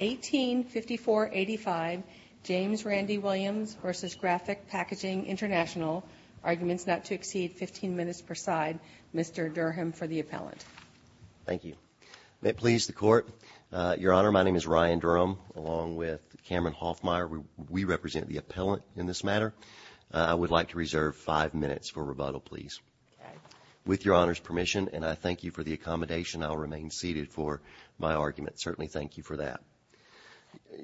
185485, James Randy Williams v. Graphic Packaging Intl, Arguments not to exceed 15 minutes per side, Mr. Durham for the appellant. Thank you. May it please the Court, Your Honor, my name is Ryan Durham, along with Cameron Hoffmeyer, we represent the appellant in this matter. I would like to reserve 5 minutes for rebuttal, please. With Your Honor's permission, and I thank you for the accommodation, I will remain seated for my argument. Certainly thank you for that.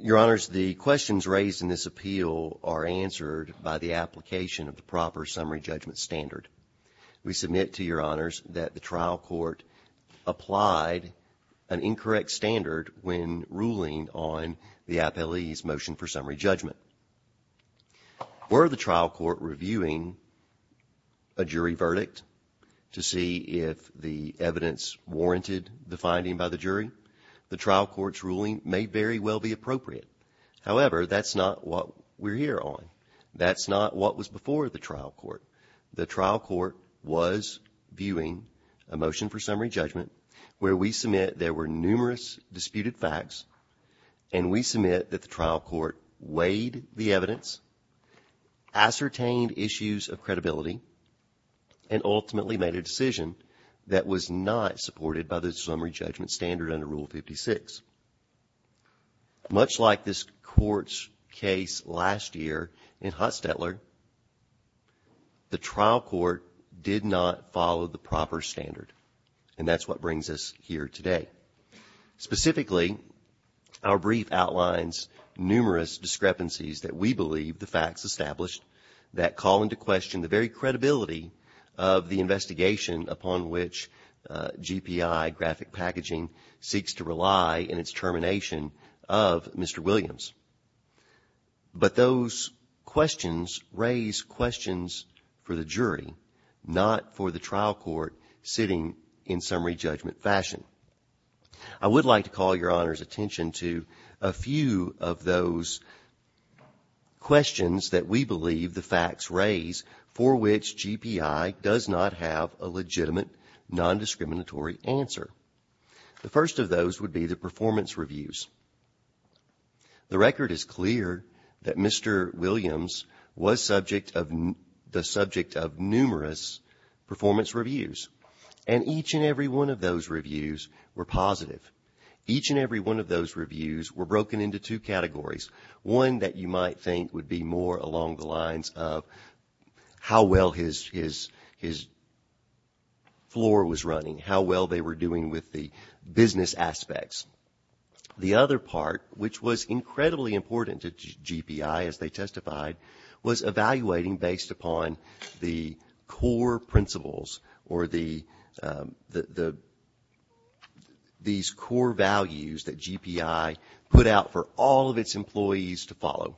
Your Honors, the questions raised in this appeal are answered by the application of the proper summary judgment standard. We submit to Your Honors that the trial court applied an incorrect standard when ruling on the appellee's motion for summary judgment. Were the trial court reviewing a jury verdict to see if the evidence warranted the finding by the jury? The trial court's ruling may very well be appropriate. However, that's not what we're here on. That's not what was before the trial court. The trial court was viewing a motion for summary judgment where we submit there were numerous disputed facts, and we submit that the trial court weighed the evidence, ascertained issues of credibility, and ultimately made a decision that was not supported by the summary judgment standard under Rule 56. Much like this court's case last year in Hustetler, the trial court did not follow the proper standard, and that's what brings us here today. Specifically, our brief outlines numerous discrepancies that we believe the facts established that call into question the very credibility of the investigation upon which GPI, graphic packaging, seeks to rely in its termination of Mr. Williams. But those questions raise questions for the jury, not for the trial court sitting in summary judgment fashion. I would like to call your honor's attention to a few of those questions that we believe the facts raise for which GPI does not have a legitimate non-discriminatory answer. The first of those would be the performance reviews. The record is clear that Mr. Williams was the subject of numerous performance reviews. And each and every one of those reviews were positive. Each and every one of those reviews were broken into two categories. One that you might think would be more along the lines of how well his floor was running, how well they were doing with the business aspects. The other part, which was incredibly important to GPI as they testified, was evaluating based upon the core principles or these core values that GPI put out for all of its employees to follow.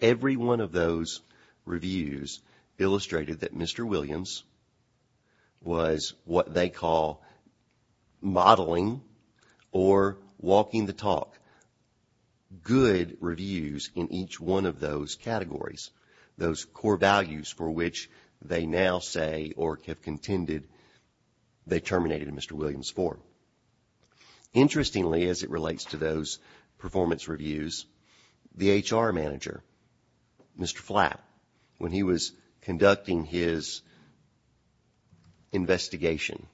Every one of those reviews illustrated that Mr. Williams was what they call modeling or walking the talk. Good reviews in each one of those categories, those core values for which they now say or have contended they terminated in Mr. Williams' floor. Interestingly, as it relates to those performance reviews, the HR manager, Mr. Flatt, when he was conducting his investigation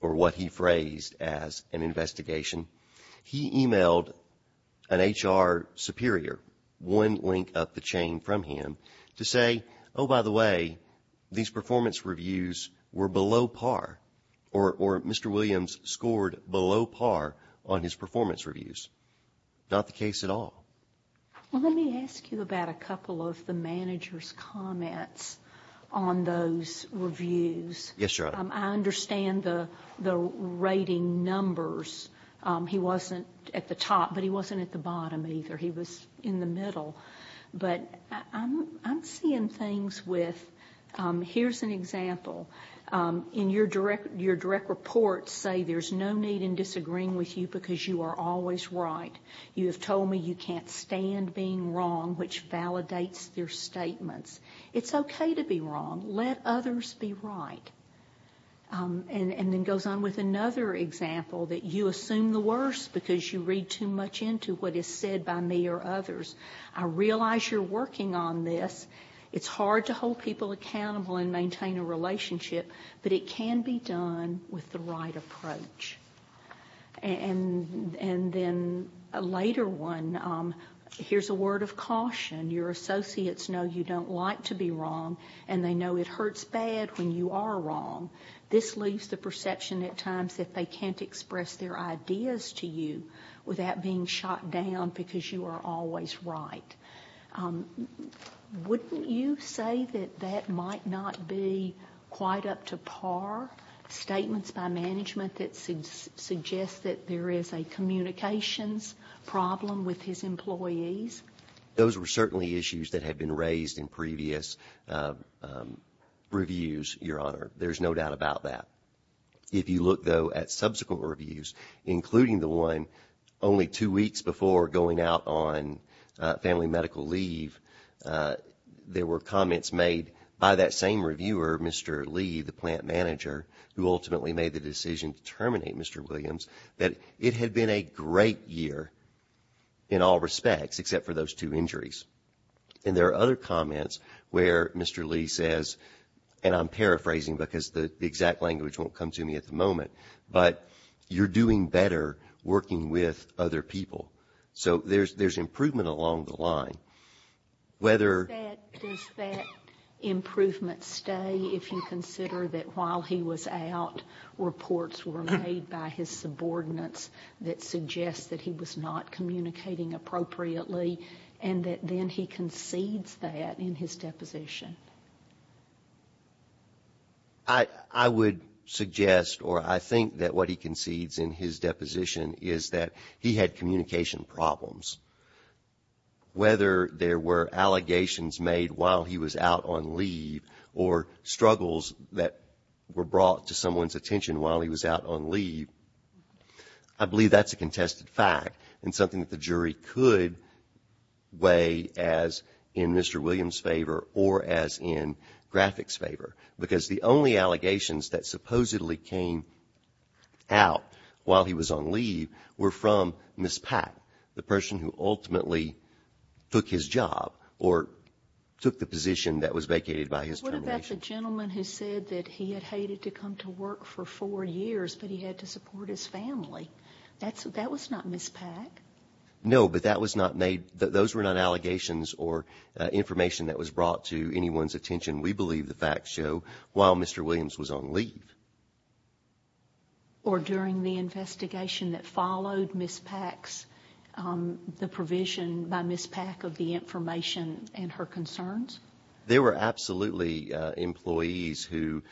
or what he phrased as an investigation, he emailed an HR superior, one link up the chain from him, to say, oh, by the way, these performance reviews were below par or Mr. Williams scored below par on his performance reviews. Not the case at all. Well, let me ask you about a couple of the manager's comments on those reviews. Yes, Your Honor. I understand the rating numbers. He wasn't at the top, but he wasn't at the bottom either. He was in the middle. But I'm seeing things with, here's an example. In your direct report, say there's no need in disagreeing with you because you are always right. You have told me you can't stand being wrong, which validates your statements. It's okay to be wrong. Let others be right. And then goes on with another example that you assume the worst because you read too much into what is said by me or others. I realize you're working on this. It's hard to hold people accountable and maintain a relationship, but it can be done with the right approach. And then a later one, here's a word of caution. Your associates know you don't like to be wrong, and they know it hurts bad when you are wrong. This leaves the perception at times that they can't express their ideas to you without being shot down because you are always right. Wouldn't you say that that might not be quite up to par, statements by management that suggest that there is a communications problem with his employees? Those were certainly issues that had been raised in previous reviews, your honor. There's no doubt about that. If you look, though, at subsequent reviews, including the one only two weeks before going out on family medical leave, there were comments made by that same reviewer, Mr. Lee, the plant manager, who ultimately made the decision to terminate Mr. Williams, that it had been a great year in all respects, except for those two injuries. And there are other comments where Mr. Lee says, and I'm paraphrasing because the exact language won't come to me at the moment, but you're doing better working with other people. So there's improvement along the line. Does that improvement stay if you consider that while he was out, reports were made by his subordinates that suggest that he was not communicating appropriately, and that then he concedes that in his deposition? I would suggest, or I think that what he concedes in his deposition is that he had communication problems. Whether there were allegations made while he was out on leave or struggles that were brought to someone's attention while he was out on leave, I believe that's a contested fact and something that the jury could weigh as in Mr. Williams' favor or as in Graphic's favor. Because the only allegations that supposedly came out while he was on leave were from Miss Pack, the person who ultimately took his job or took the position that was vacated by his termination. What about the gentleman who said that he had hated to come to work for four years, but he had to support his family? That was not Miss Pack. No, but that was not made, those were not allegations or information that was brought to anyone's attention, we believe the facts show, while Mr. Williams was on leave. Or during the investigation that followed Miss Pack's, the provision by Miss Pack of the information and her concerns? There were absolutely employees who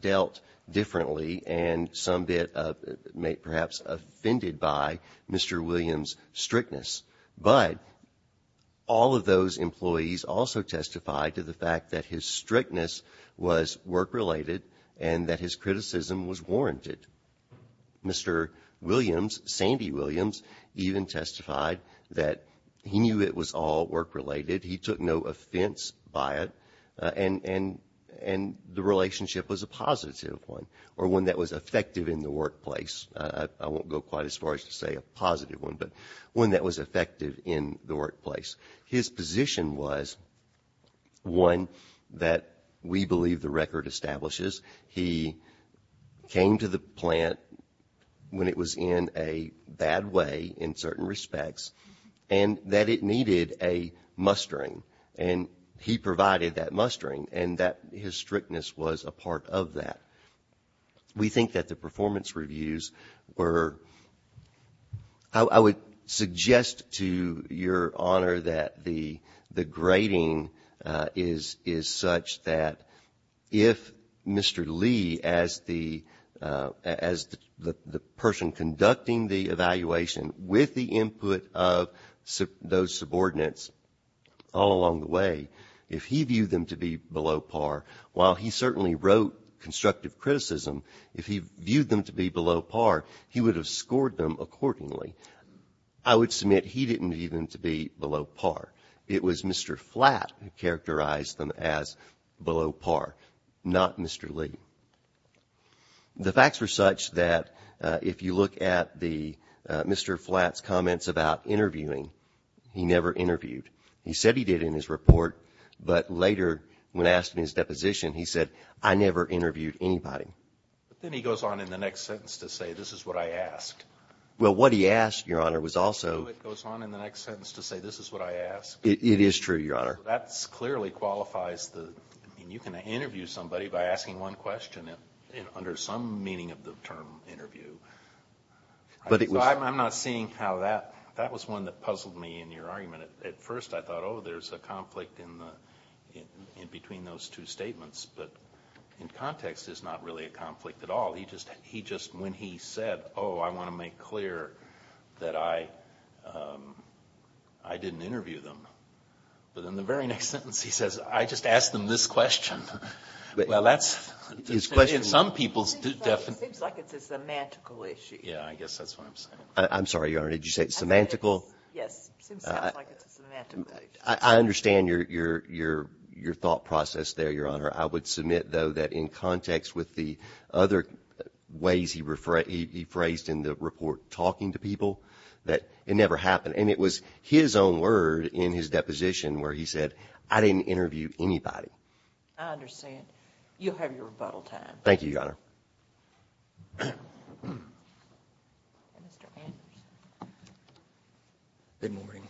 dealt differently and some bit of, perhaps, offended by Mr. Williams' strictness. But all of those employees also testified to the fact that his strictness was work-related and that his criticism was warranted. Mr. Williams, Sandy Williams, even testified that he knew it was all work-related. He took no offense by it, and the relationship was a positive one, or one that was effective in the workplace. I won't go quite as far as to say a positive one, but one that was effective in the workplace. His position was one that we believe the record establishes. He came to the plant when it was in a bad way, in certain respects, and that it needed a mustering. And he provided that mustering, and that his strictness was a part of that. We think that the performance reviews were, I would suggest to your honor that the grading is such that if Mr. Lee, as the person conducting the evaluation, with the input of those subordinates all along the way, if he viewed them to be below par, while he certainly wrote constructive criticism, if he viewed them to be below par, he would have scored them accordingly. I would submit he didn't view them to be below par. It was Mr. Flatt who characterized them as below par, not Mr. Lee. The facts were such that if you look at Mr. Flatt's comments about interviewing, he never interviewed. He said he did in his report, but later when asked in his deposition, he said, I never interviewed anybody. But then he goes on in the next sentence to say, this is what I asked. Well, what he asked, your honor, was also- It is true, your honor. That clearly qualifies the, I mean, you can interview somebody by asking one question, under some meaning of the term interview, but I'm not seeing how that, that was one that puzzled me in your argument. At first, I thought, there's a conflict in between those two statements, but in context, it's not really a conflict at all. He just, when he said, oh, I want to make clear that I didn't interview them. But in the very next sentence, he says, I just asked them this question. Well, that's- His question- Some people do- It seems like it's a semantical issue. Yeah, I guess that's what I'm saying. I'm sorry, your honor, did you say it's semantical? Yes, it seems like it's a semantical issue. I understand your thought process there, your honor. I would submit, though, that in context with the other ways he phrased in the report, talking to people, that it never happened. And it was his own word in his deposition where he said, I didn't interview anybody. I understand. You have your rebuttal time. Thank you, your honor. Good morning.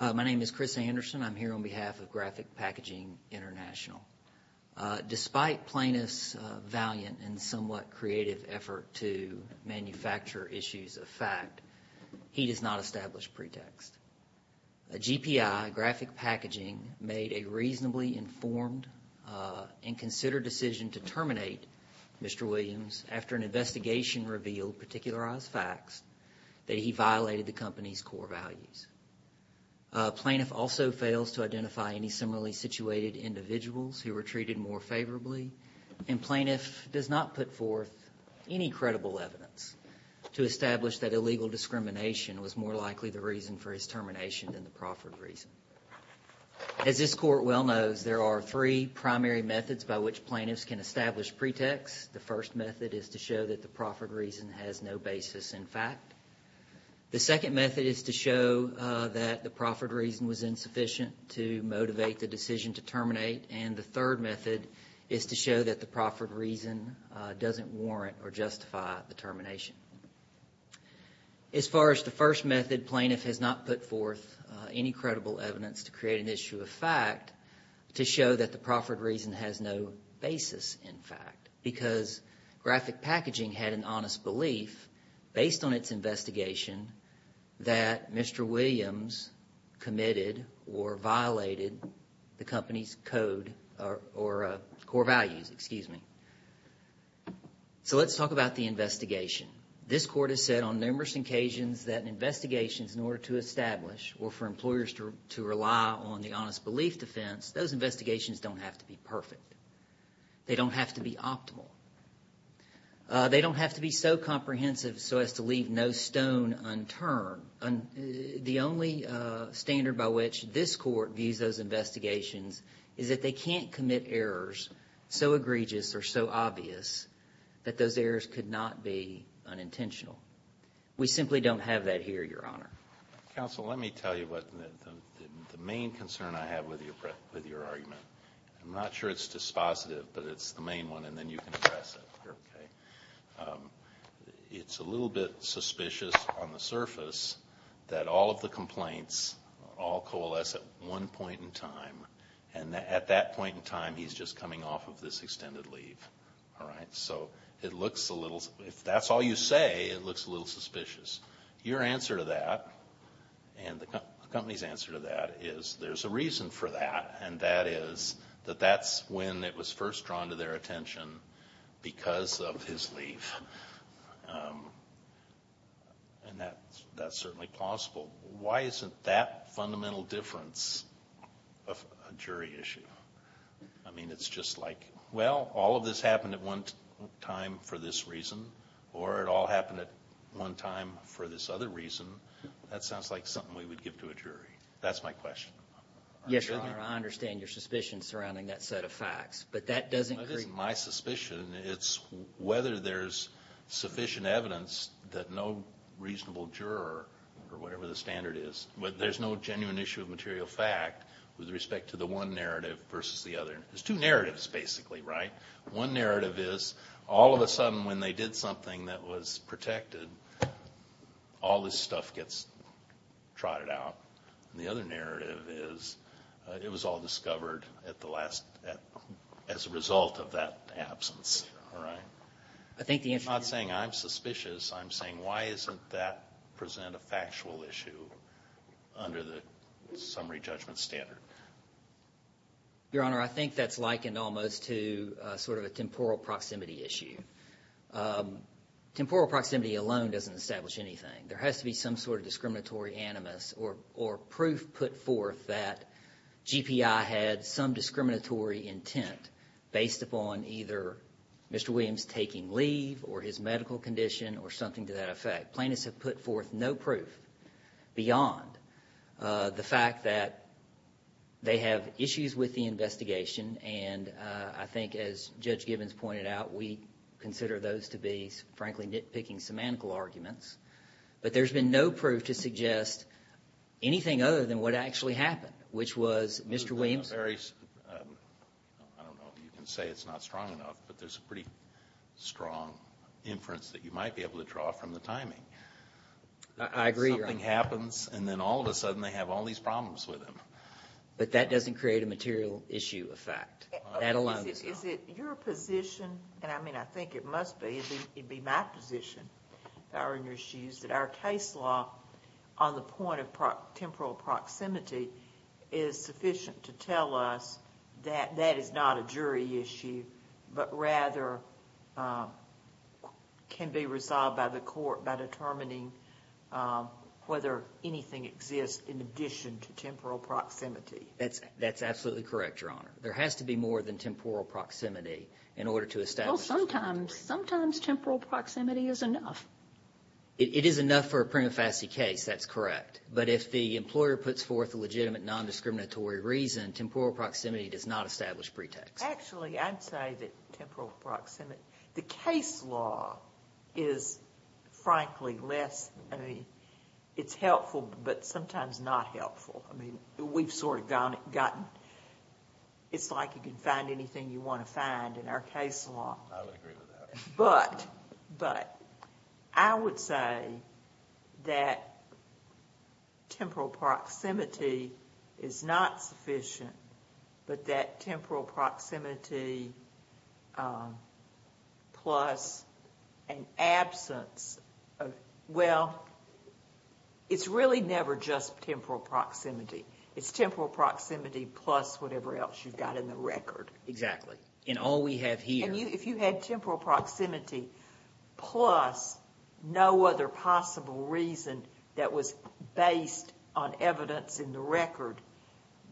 My name is Chris Anderson. I'm here on behalf of Graphic Packaging International. Despite plaintiff's valiant and somewhat creative effort to manufacture issues of fact, he does not establish pretext. A GPI, Graphic Packaging, made a reasonably informed and considered decision to terminate Mr. Williams after an investigation revealed particularized facts that he violated the company's core values. A plaintiff also fails to identify any similarly situated individuals who were treated more favorably. And plaintiff does not put forth any credible evidence to establish that illegal discrimination was more likely the reason for his termination than the proffered reason. As this court well knows, there are three primary methods by which plaintiffs can establish pretext. The first method is to show that the proffered reason has no basis in fact. The second method is to show that the proffered reason was insufficient to motivate the decision to terminate. And the third method is to show that the proffered reason doesn't warrant or justify the termination. As far as the first method, plaintiff has not put forth any credible evidence to create an issue of fact to show that the proffered reason has no basis in fact because Graphic Packaging had an honest belief based on its investigation that Mr. Williams committed or violated the company's code or core values. Excuse me. So let's talk about the investigation. This court has said on numerous occasions that investigations in order to establish or for employers to rely on the honest belief defense, those investigations don't have to be perfect. They don't have to be optimal. They don't have to be so comprehensive so as to leave no stone unturned. The only standard by which this court views those investigations is that they can't commit errors so egregious or so obvious that those errors could not be unintentional. We simply don't have that here, Your Honor. Counsel, let me tell you what the main concern I have with your argument. I'm not sure it's dispositive but it's the main one and then you can address it. It's a little bit suspicious on the surface that all of the complaints all coalesce at one point in time and at that point in time he's just coming off of this extended leave, all right? So it looks a little, if that's all you say, it looks a little suspicious. Your answer to that and the company's answer to that is there's a reason for that and that is that that's when it was first drawn to their attention because of his leave. And that's certainly plausible. Why isn't that fundamental difference a jury issue? I mean, it's just like, well, all of this happened at one time for this reason or it all happened at one time for this other reason. That sounds like something we would give to a jury. That's my question. Yes, Your Honor, I understand your suspicion surrounding that set of facts. But that doesn't create... That isn't my suspicion. It's whether there's sufficient evidence that no reasonable juror or whatever the standard is, there's no genuine issue of material fact with respect to the one narrative versus the other. There's two narratives basically, right? One narrative is all of a sudden when they did something that was protected, all this stuff gets trotted out. The other narrative is it was all discovered as a result of that absence, all right? I think the answer... I'm not saying I'm suspicious. I'm saying why isn't that present a factual issue under the summary judgment standard? Your Honor, I think that's likened almost to sort of a temporal proximity issue. Temporal proximity alone doesn't establish anything. There has to be some sort of discriminatory animus or proof put forth that GPI had some discriminatory intent based upon either Mr. Williams taking leave or his medical condition or something to that effect. Plaintiffs have put forth no proof beyond the fact that they have issues with the investigation and I think as Judge Gibbons pointed out, we consider those to be frankly nitpicking semantical arguments. But there's been no proof to suggest anything other than what actually happened, which was Mr. Williams... I don't know if you can say it's not strong enough, but there's a pretty strong inference that you might be able to draw from the timing. I agree, Your Honor. Something happens and then all of a sudden they have all these problems with him. But that doesn't create a material issue effect. That alone... Is it your position, and I mean I think it must be, it'd be my position, that our case law on the point of temporal proximity is sufficient to tell us that that is not a jury issue but rather can be resolved by the court by determining whether anything exists in addition to temporal proximity? That's absolutely correct, Your Honor. There has to be more than temporal proximity in order to establish... Well, sometimes temporal proximity is enough. It is enough for a prima facie case, that's correct. But if the employer puts forth a legitimate non-discriminatory reason, temporal proximity does not establish pretext. Actually, I'd say that temporal proximity... The case law is frankly less... It's helpful but sometimes not helpful. We've sort of gotten... It's like you can find anything you want to find in our case law. I would agree with that. But I would say that temporal proximity is not sufficient but that temporal proximity plus an absence of... Well, it's really never just temporal proximity. It's temporal proximity plus whatever else you've got in the record. Exactly. And all we have here... And if you had temporal proximity plus no other possible reason that was based on evidence in the record,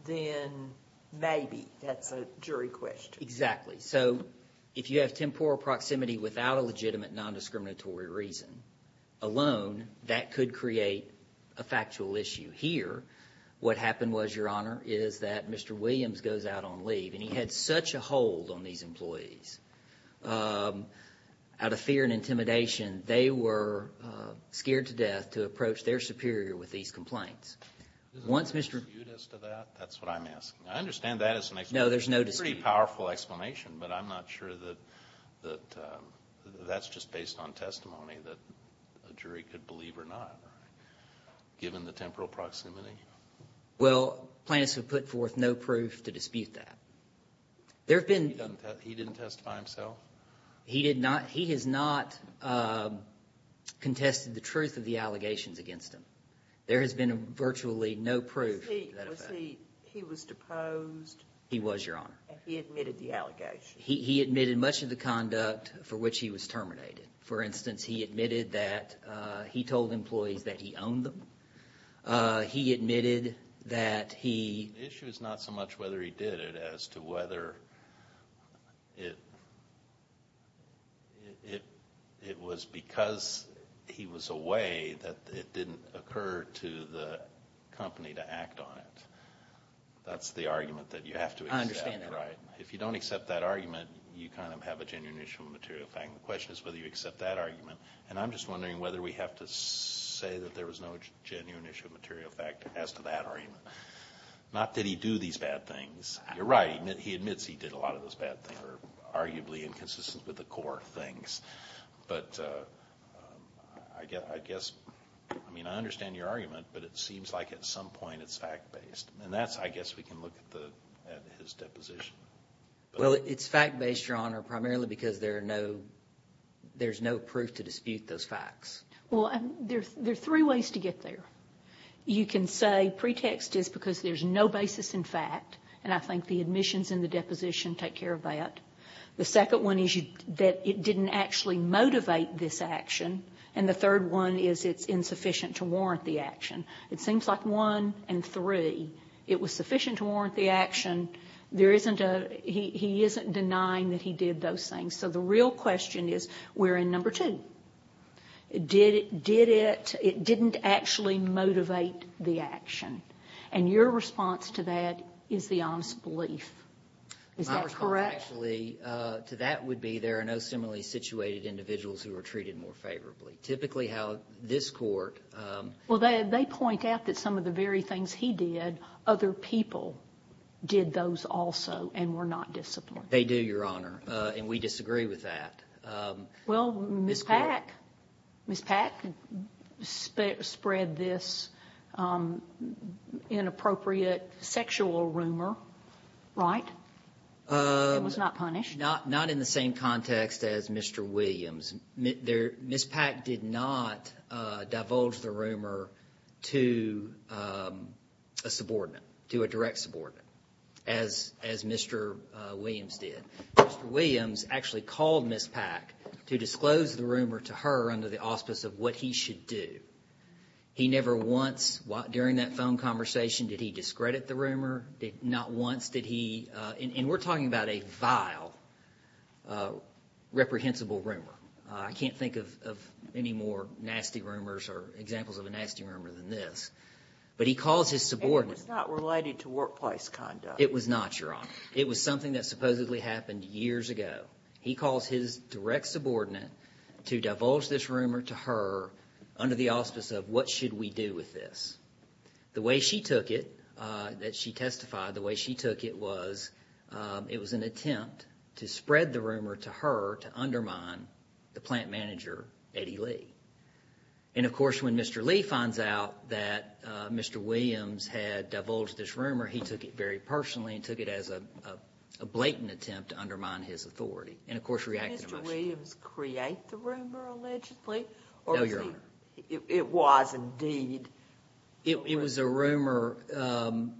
then maybe that's a jury question. Exactly. So, if you have temporal proximity without a legitimate non-discriminatory reason alone, that could create a factual issue. Here, what happened was, Your Honor, is that Mr. Williams goes out on leave and he had such a hold on these employees, out of fear and intimidation, they were scared to death to approach their superior with these complaints. Once Mr. Williams... Isn't there a dispute as to that? That's what I'm asking. I understand that as an explanation. No, there's no dispute. It's a pretty powerful explanation, but I'm not sure that that's just based on testimony that a jury could believe or not, given the temporal proximity. Well, plaintiffs have put forth no proof to dispute that. There have been... He didn't testify himself? He has not contested the truth of the allegations against him. There has been virtually no proof. He was deposed? He was, Your Honor. And he admitted the allegations? He admitted much of the conduct for which he was terminated. For instance, he admitted that he told employees that he owned them. He admitted that he... The issue is not so much whether he did it as to whether it was because he was away that it didn't occur to the company to act on it. That's the argument that you have to accept, right? I understand that. If you don't accept that argument, you kind of have a genuine issue of material fact. The question is whether you accept that argument. And I'm just wondering whether we have to say that there was no genuine issue of material fact as to that argument. Not that he do these bad things. You're right. He admits he did a lot of those bad things that are arguably inconsistent with the core of things. But I guess, I mean, I understand your argument, but it seems like at some point it's fact-based. And that's, I guess, we can look at his deposition. Well, it's fact-based, Your Honor, primarily because there's no proof to dispute those facts. Well, there are three ways to get there. You can say pretext is because there's no basis in fact, and I think the admissions and the deposition take care of that. The second one is that it didn't actually motivate this action. And the third one is it's insufficient to warrant the action. It seems like one and three. It was sufficient to warrant the action. There isn't a, he isn't denying that he did those things. So the real question is, we're in number two. Did it, did it, it didn't actually motivate the action. And your response to that is the honest belief. Is that correct? My response actually to that would be there are no similarly situated individuals who are treated more favorably. Typically how this court... Well they point out that some of the very things he did, other people did those also and were not disciplined. They do, Your Honor, and we disagree with that. Well, Ms. Pack, Ms. Pack spread this inappropriate sexual rumor, right? It was not punished. Not in the same context as Mr. Williams. Ms. Pack did not divulge the rumor to a subordinate, to a direct subordinate, as Mr. Williams did. Mr. Williams actually called Ms. Pack to disclose the rumor to her under the auspice of what he should do. He never once, during that phone conversation, did he discredit the rumor? Not once did he, and we're talking about a vile, reprehensible rumor. I can't think of any more nasty rumors or examples of a nasty rumor than this. But he calls his subordinate... And it was not related to workplace conduct. It was not, Your Honor. It was something that supposedly happened years ago. He calls his direct subordinate to divulge this rumor to her under the auspice of what should we do with this. The way she took it, that she testified, the way she took it was it was an attempt to spread the rumor to her to undermine the plant manager, Eddie Lee. And of course, when Mr. Lee finds out that Mr. Williams had divulged this rumor, he took it very personally and took it as a blatant attempt to undermine his authority, and of course reacted emotionally. Did Mr. Williams create the rumor, allegedly? No, Your Honor. It was, indeed, a rumor? It was a rumor.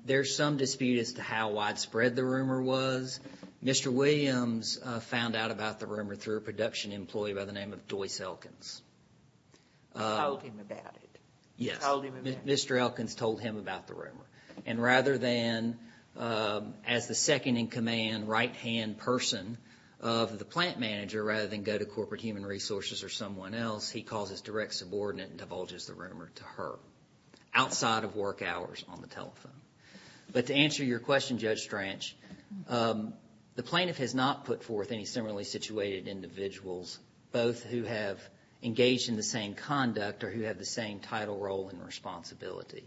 There's some dispute as to how widespread the rumor was. Mr. Williams found out about the rumor through a production employee by the name of Doyce Elkins. You told him about it? Yes. You told him about it? Mr. Elkins told him about the rumor. And rather than, as the second-in-command, right-hand person of the plant manager, rather than go to Corporate Human Resources or someone else, he calls his direct subordinate and divulges the rumor to her, outside of work hours on the telephone. But to answer your question, Judge Stranch, the plaintiff has not put forth any similarly situated individuals, both who have engaged in the same conduct or who have the same title role and responsibility.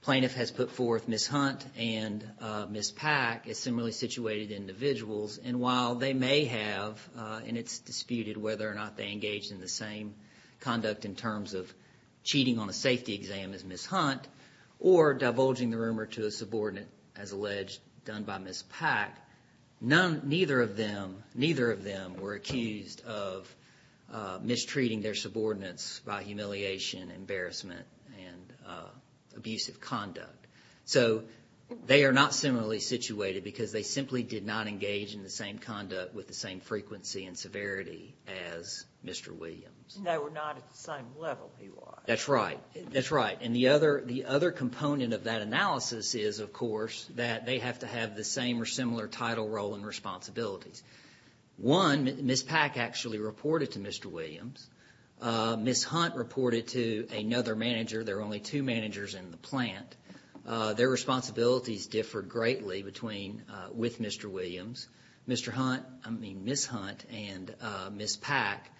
The plaintiff has put forth Ms. Hunt and Ms. Pack as similarly situated individuals. And while they may have, and it's disputed whether or not they engaged in the same conduct in terms of cheating on a safety exam as Ms. Hunt or divulging the rumor to a subordinate, as alleged, done by Ms. Pack, neither of them were accused of mistreating their subordinates by humiliation, embarrassment, and abusive conduct. So they are not similarly situated because they simply did not engage in the same conduct with the same frequency and severity as Mr. Williams. They were not at the same level, he was. That's right. That's right. And the other component of that analysis is, of course, that they have to have the same or similar title role and responsibilities. One, Ms. Pack actually reported to Mr. Williams. Ms. Hunt reported to another manager. There were only two managers in the plant. Their responsibilities differed greatly between, with Mr. Williams. Mr. Hunt, I mean Ms. Hunt and Ms. Pack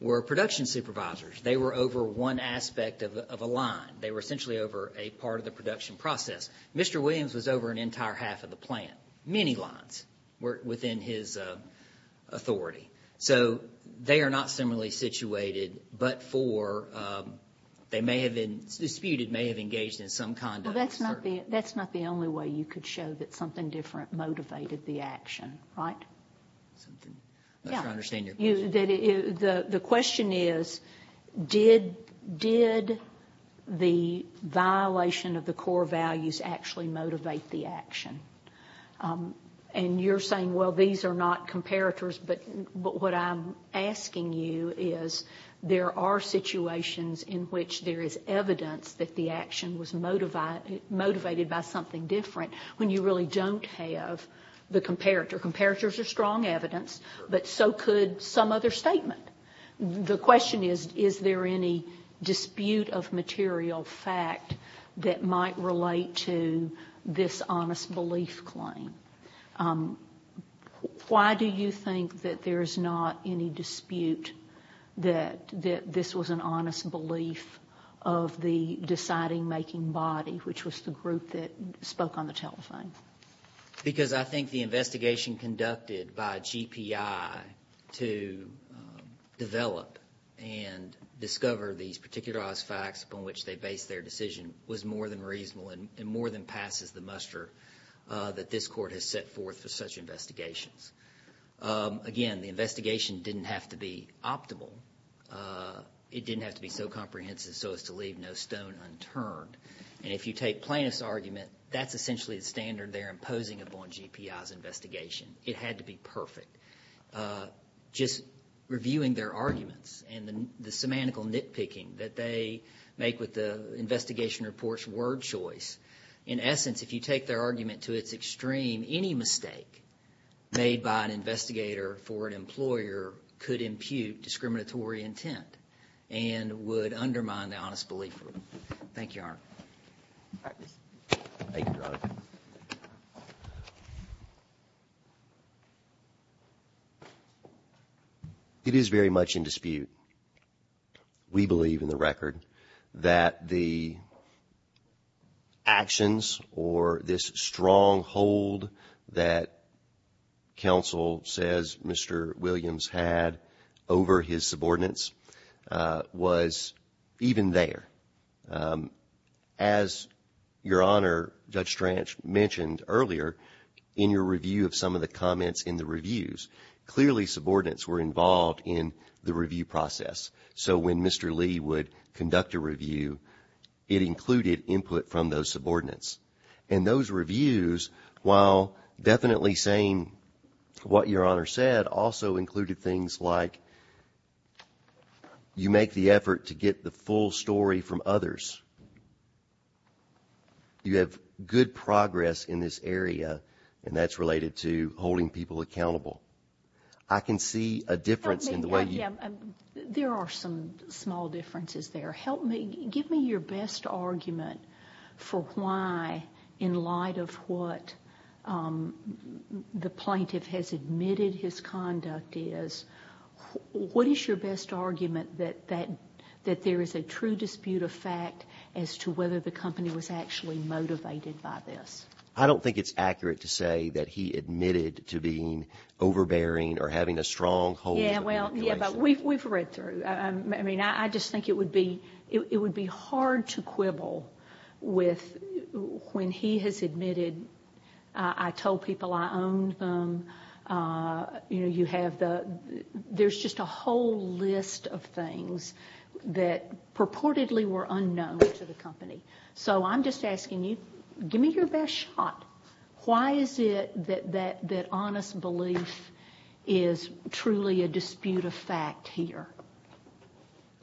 were production supervisors. They were over one aspect of a line. They were essentially over a part of the production process. Mr. Williams was over an entire half of the plant. Many lines were within his authority. So they are not similarly situated, but for, they may have been disputed, may have engaged in some conduct. Well, that's not the only way you could show that something different motivated the action, right? Something. I'm not sure I understand your question. The question is, did the violation of the core values actually motivate the action? And you're saying, well, these are not comparators, but what I'm asking you is, there are situations in which there is evidence that the action was motivated by something different when you really don't have the comparator. Their comparators are strong evidence, but so could some other statement. The question is, is there any dispute of material fact that might relate to this honest belief claim? Why do you think that there's not any dispute that this was an honest belief of the deciding making body, which was the group that spoke on the telephone? Because I think the investigation conducted by GPI to develop and discover these particular odds facts upon which they based their decision was more than reasonable and more than passes the muster that this court has set forth for such investigations. Again, the investigation didn't have to be optimal. It didn't have to be so comprehensive so as to leave no stone unturned. If you take plaintiff's argument, that's essentially the standard they're imposing upon GPI's investigation. It had to be perfect. Just reviewing their arguments and the semantical nitpicking that they make with the investigation report's word choice, in essence, if you take their argument to its extreme, any mistake made by an investigator for an employer could impute discriminatory intent and would undermine the honest belief rule. Thank you, Your Honor. Thank you, Your Honor. It is very much in dispute. We believe in the record that the actions or this stronghold that counsel says Mr. Williams had over his subordinates was even there. As Your Honor, Judge Stranch, mentioned earlier in your review of some of the comments in the reviews, clearly subordinates were involved in the review process. So when Mr. Lee would conduct a review, it included input from those subordinates. And those reviews, while definitely saying what Your Honor said, also included things like you make the effort to get the full story from others. You have good progress in this area, and that's related to holding people accountable. I can see a difference in the way you... There are some small differences there. Help me, give me your best argument for why, in light of what the plaintiff has admitted his conduct is, what is your best argument that there is a true dispute of fact as to whether the company was actually motivated by this? I don't think it's accurate to say that he admitted to being overbearing or having a stronghold... Yeah. Well, yeah, but we've read through. I mean, I just think it would be hard to quibble with, when he has admitted, I told people I owned them, you know, you have the... there's just a whole list of things that purportedly were unknown to the company. So I'm just asking you, give me your best shot. Why is it that honest belief is truly a dispute of fact here?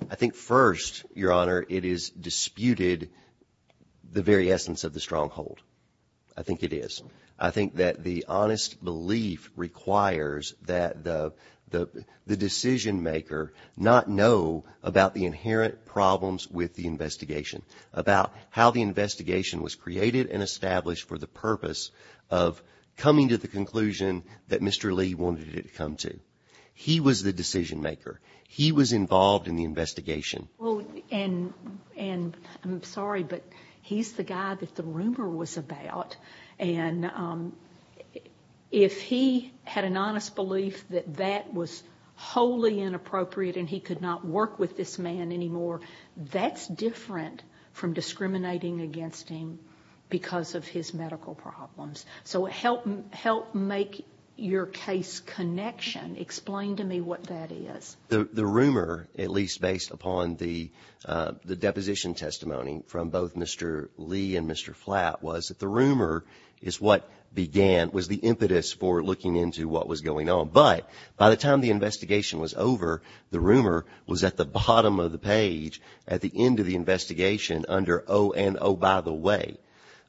I think first, Your Honor, it is disputed the very essence of the stronghold. I think it is. I think that the honest belief requires that the decision maker not know about the inherent problems with the investigation, about how the investigation was created and established for the purpose of coming to the conclusion that Mr. Lee wanted it to come to. He was the decision maker. He was involved in the investigation. Well, and I'm sorry, but he's the guy that the rumor was about. And if he had an honest belief that that was wholly inappropriate and he could not work with this man anymore, that's different from discriminating against him because of his medical problems. So help make your case connection. Explain to me what that is. The rumor, at least based upon the deposition testimony from both Mr. Lee and Mr. Flatt, was that the rumor is what began, was the impetus for looking into what was going on. But by the time the investigation was over, the rumor was at the bottom of the page at the end of the investigation under ONO, by the way.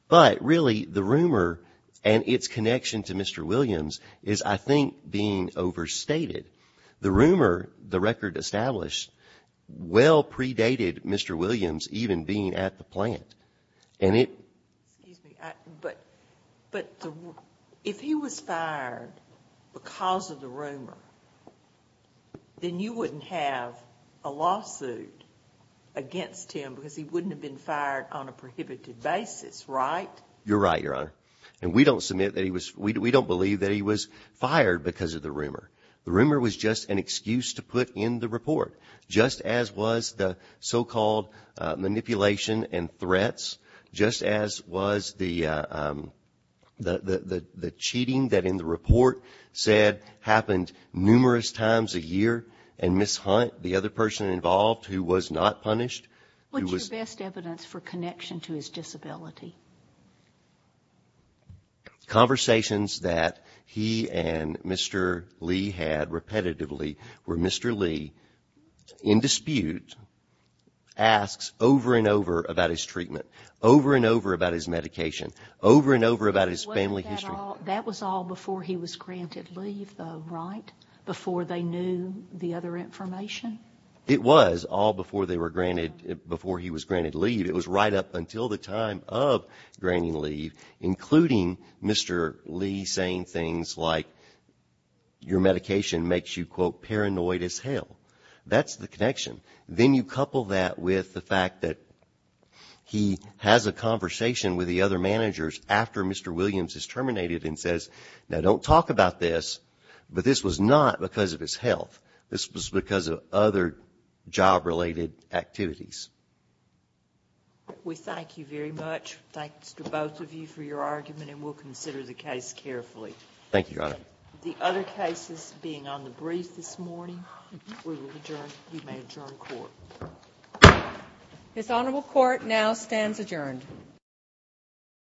But really, the rumor and its connection to Mr. Williams is, I think, being overstated. The rumor, the record established, well predated Mr. Williams even being at the plant. And it. Excuse me, but if he was fired because of the rumor, then you wouldn't have a lawsuit against him because he wouldn't have been fired on a prohibited basis, right? You're right, Your Honor. And we don't submit that he was, we don't believe that he was fired because of the rumor. The rumor was just an excuse to put in the report, just as was the so-called manipulation and threats, just as was the cheating that in the report said happened numerous times a year and mishunt the other person involved who was not punished. What's your best evidence for connection to his disability? Conversations that he and Mr. Lee had repetitively where Mr. Lee, in dispute, asks over and over about his treatment, over and over about his medication, over and over about his family history. That was all before he was granted leave, though, right? Before they knew the other information? It was all before they were granted, before he was granted leave. It was right up until the time of granting leave, including Mr. Lee saying things like your medication makes you, quote, paranoid as hell. That's the connection. Then you couple that with the fact that he has a conversation with the other managers after Mr. Williams is terminated and says, now, don't talk about this, but this was not because of his health. This was because of other job-related activities. We thank you very much. Thanks to both of you for your argument, and we'll consider the case carefully. Thank you, Your Honor. The other cases being on the brief this morning, we will adjourn. You may adjourn court. This Honorable Court now stands adjourned.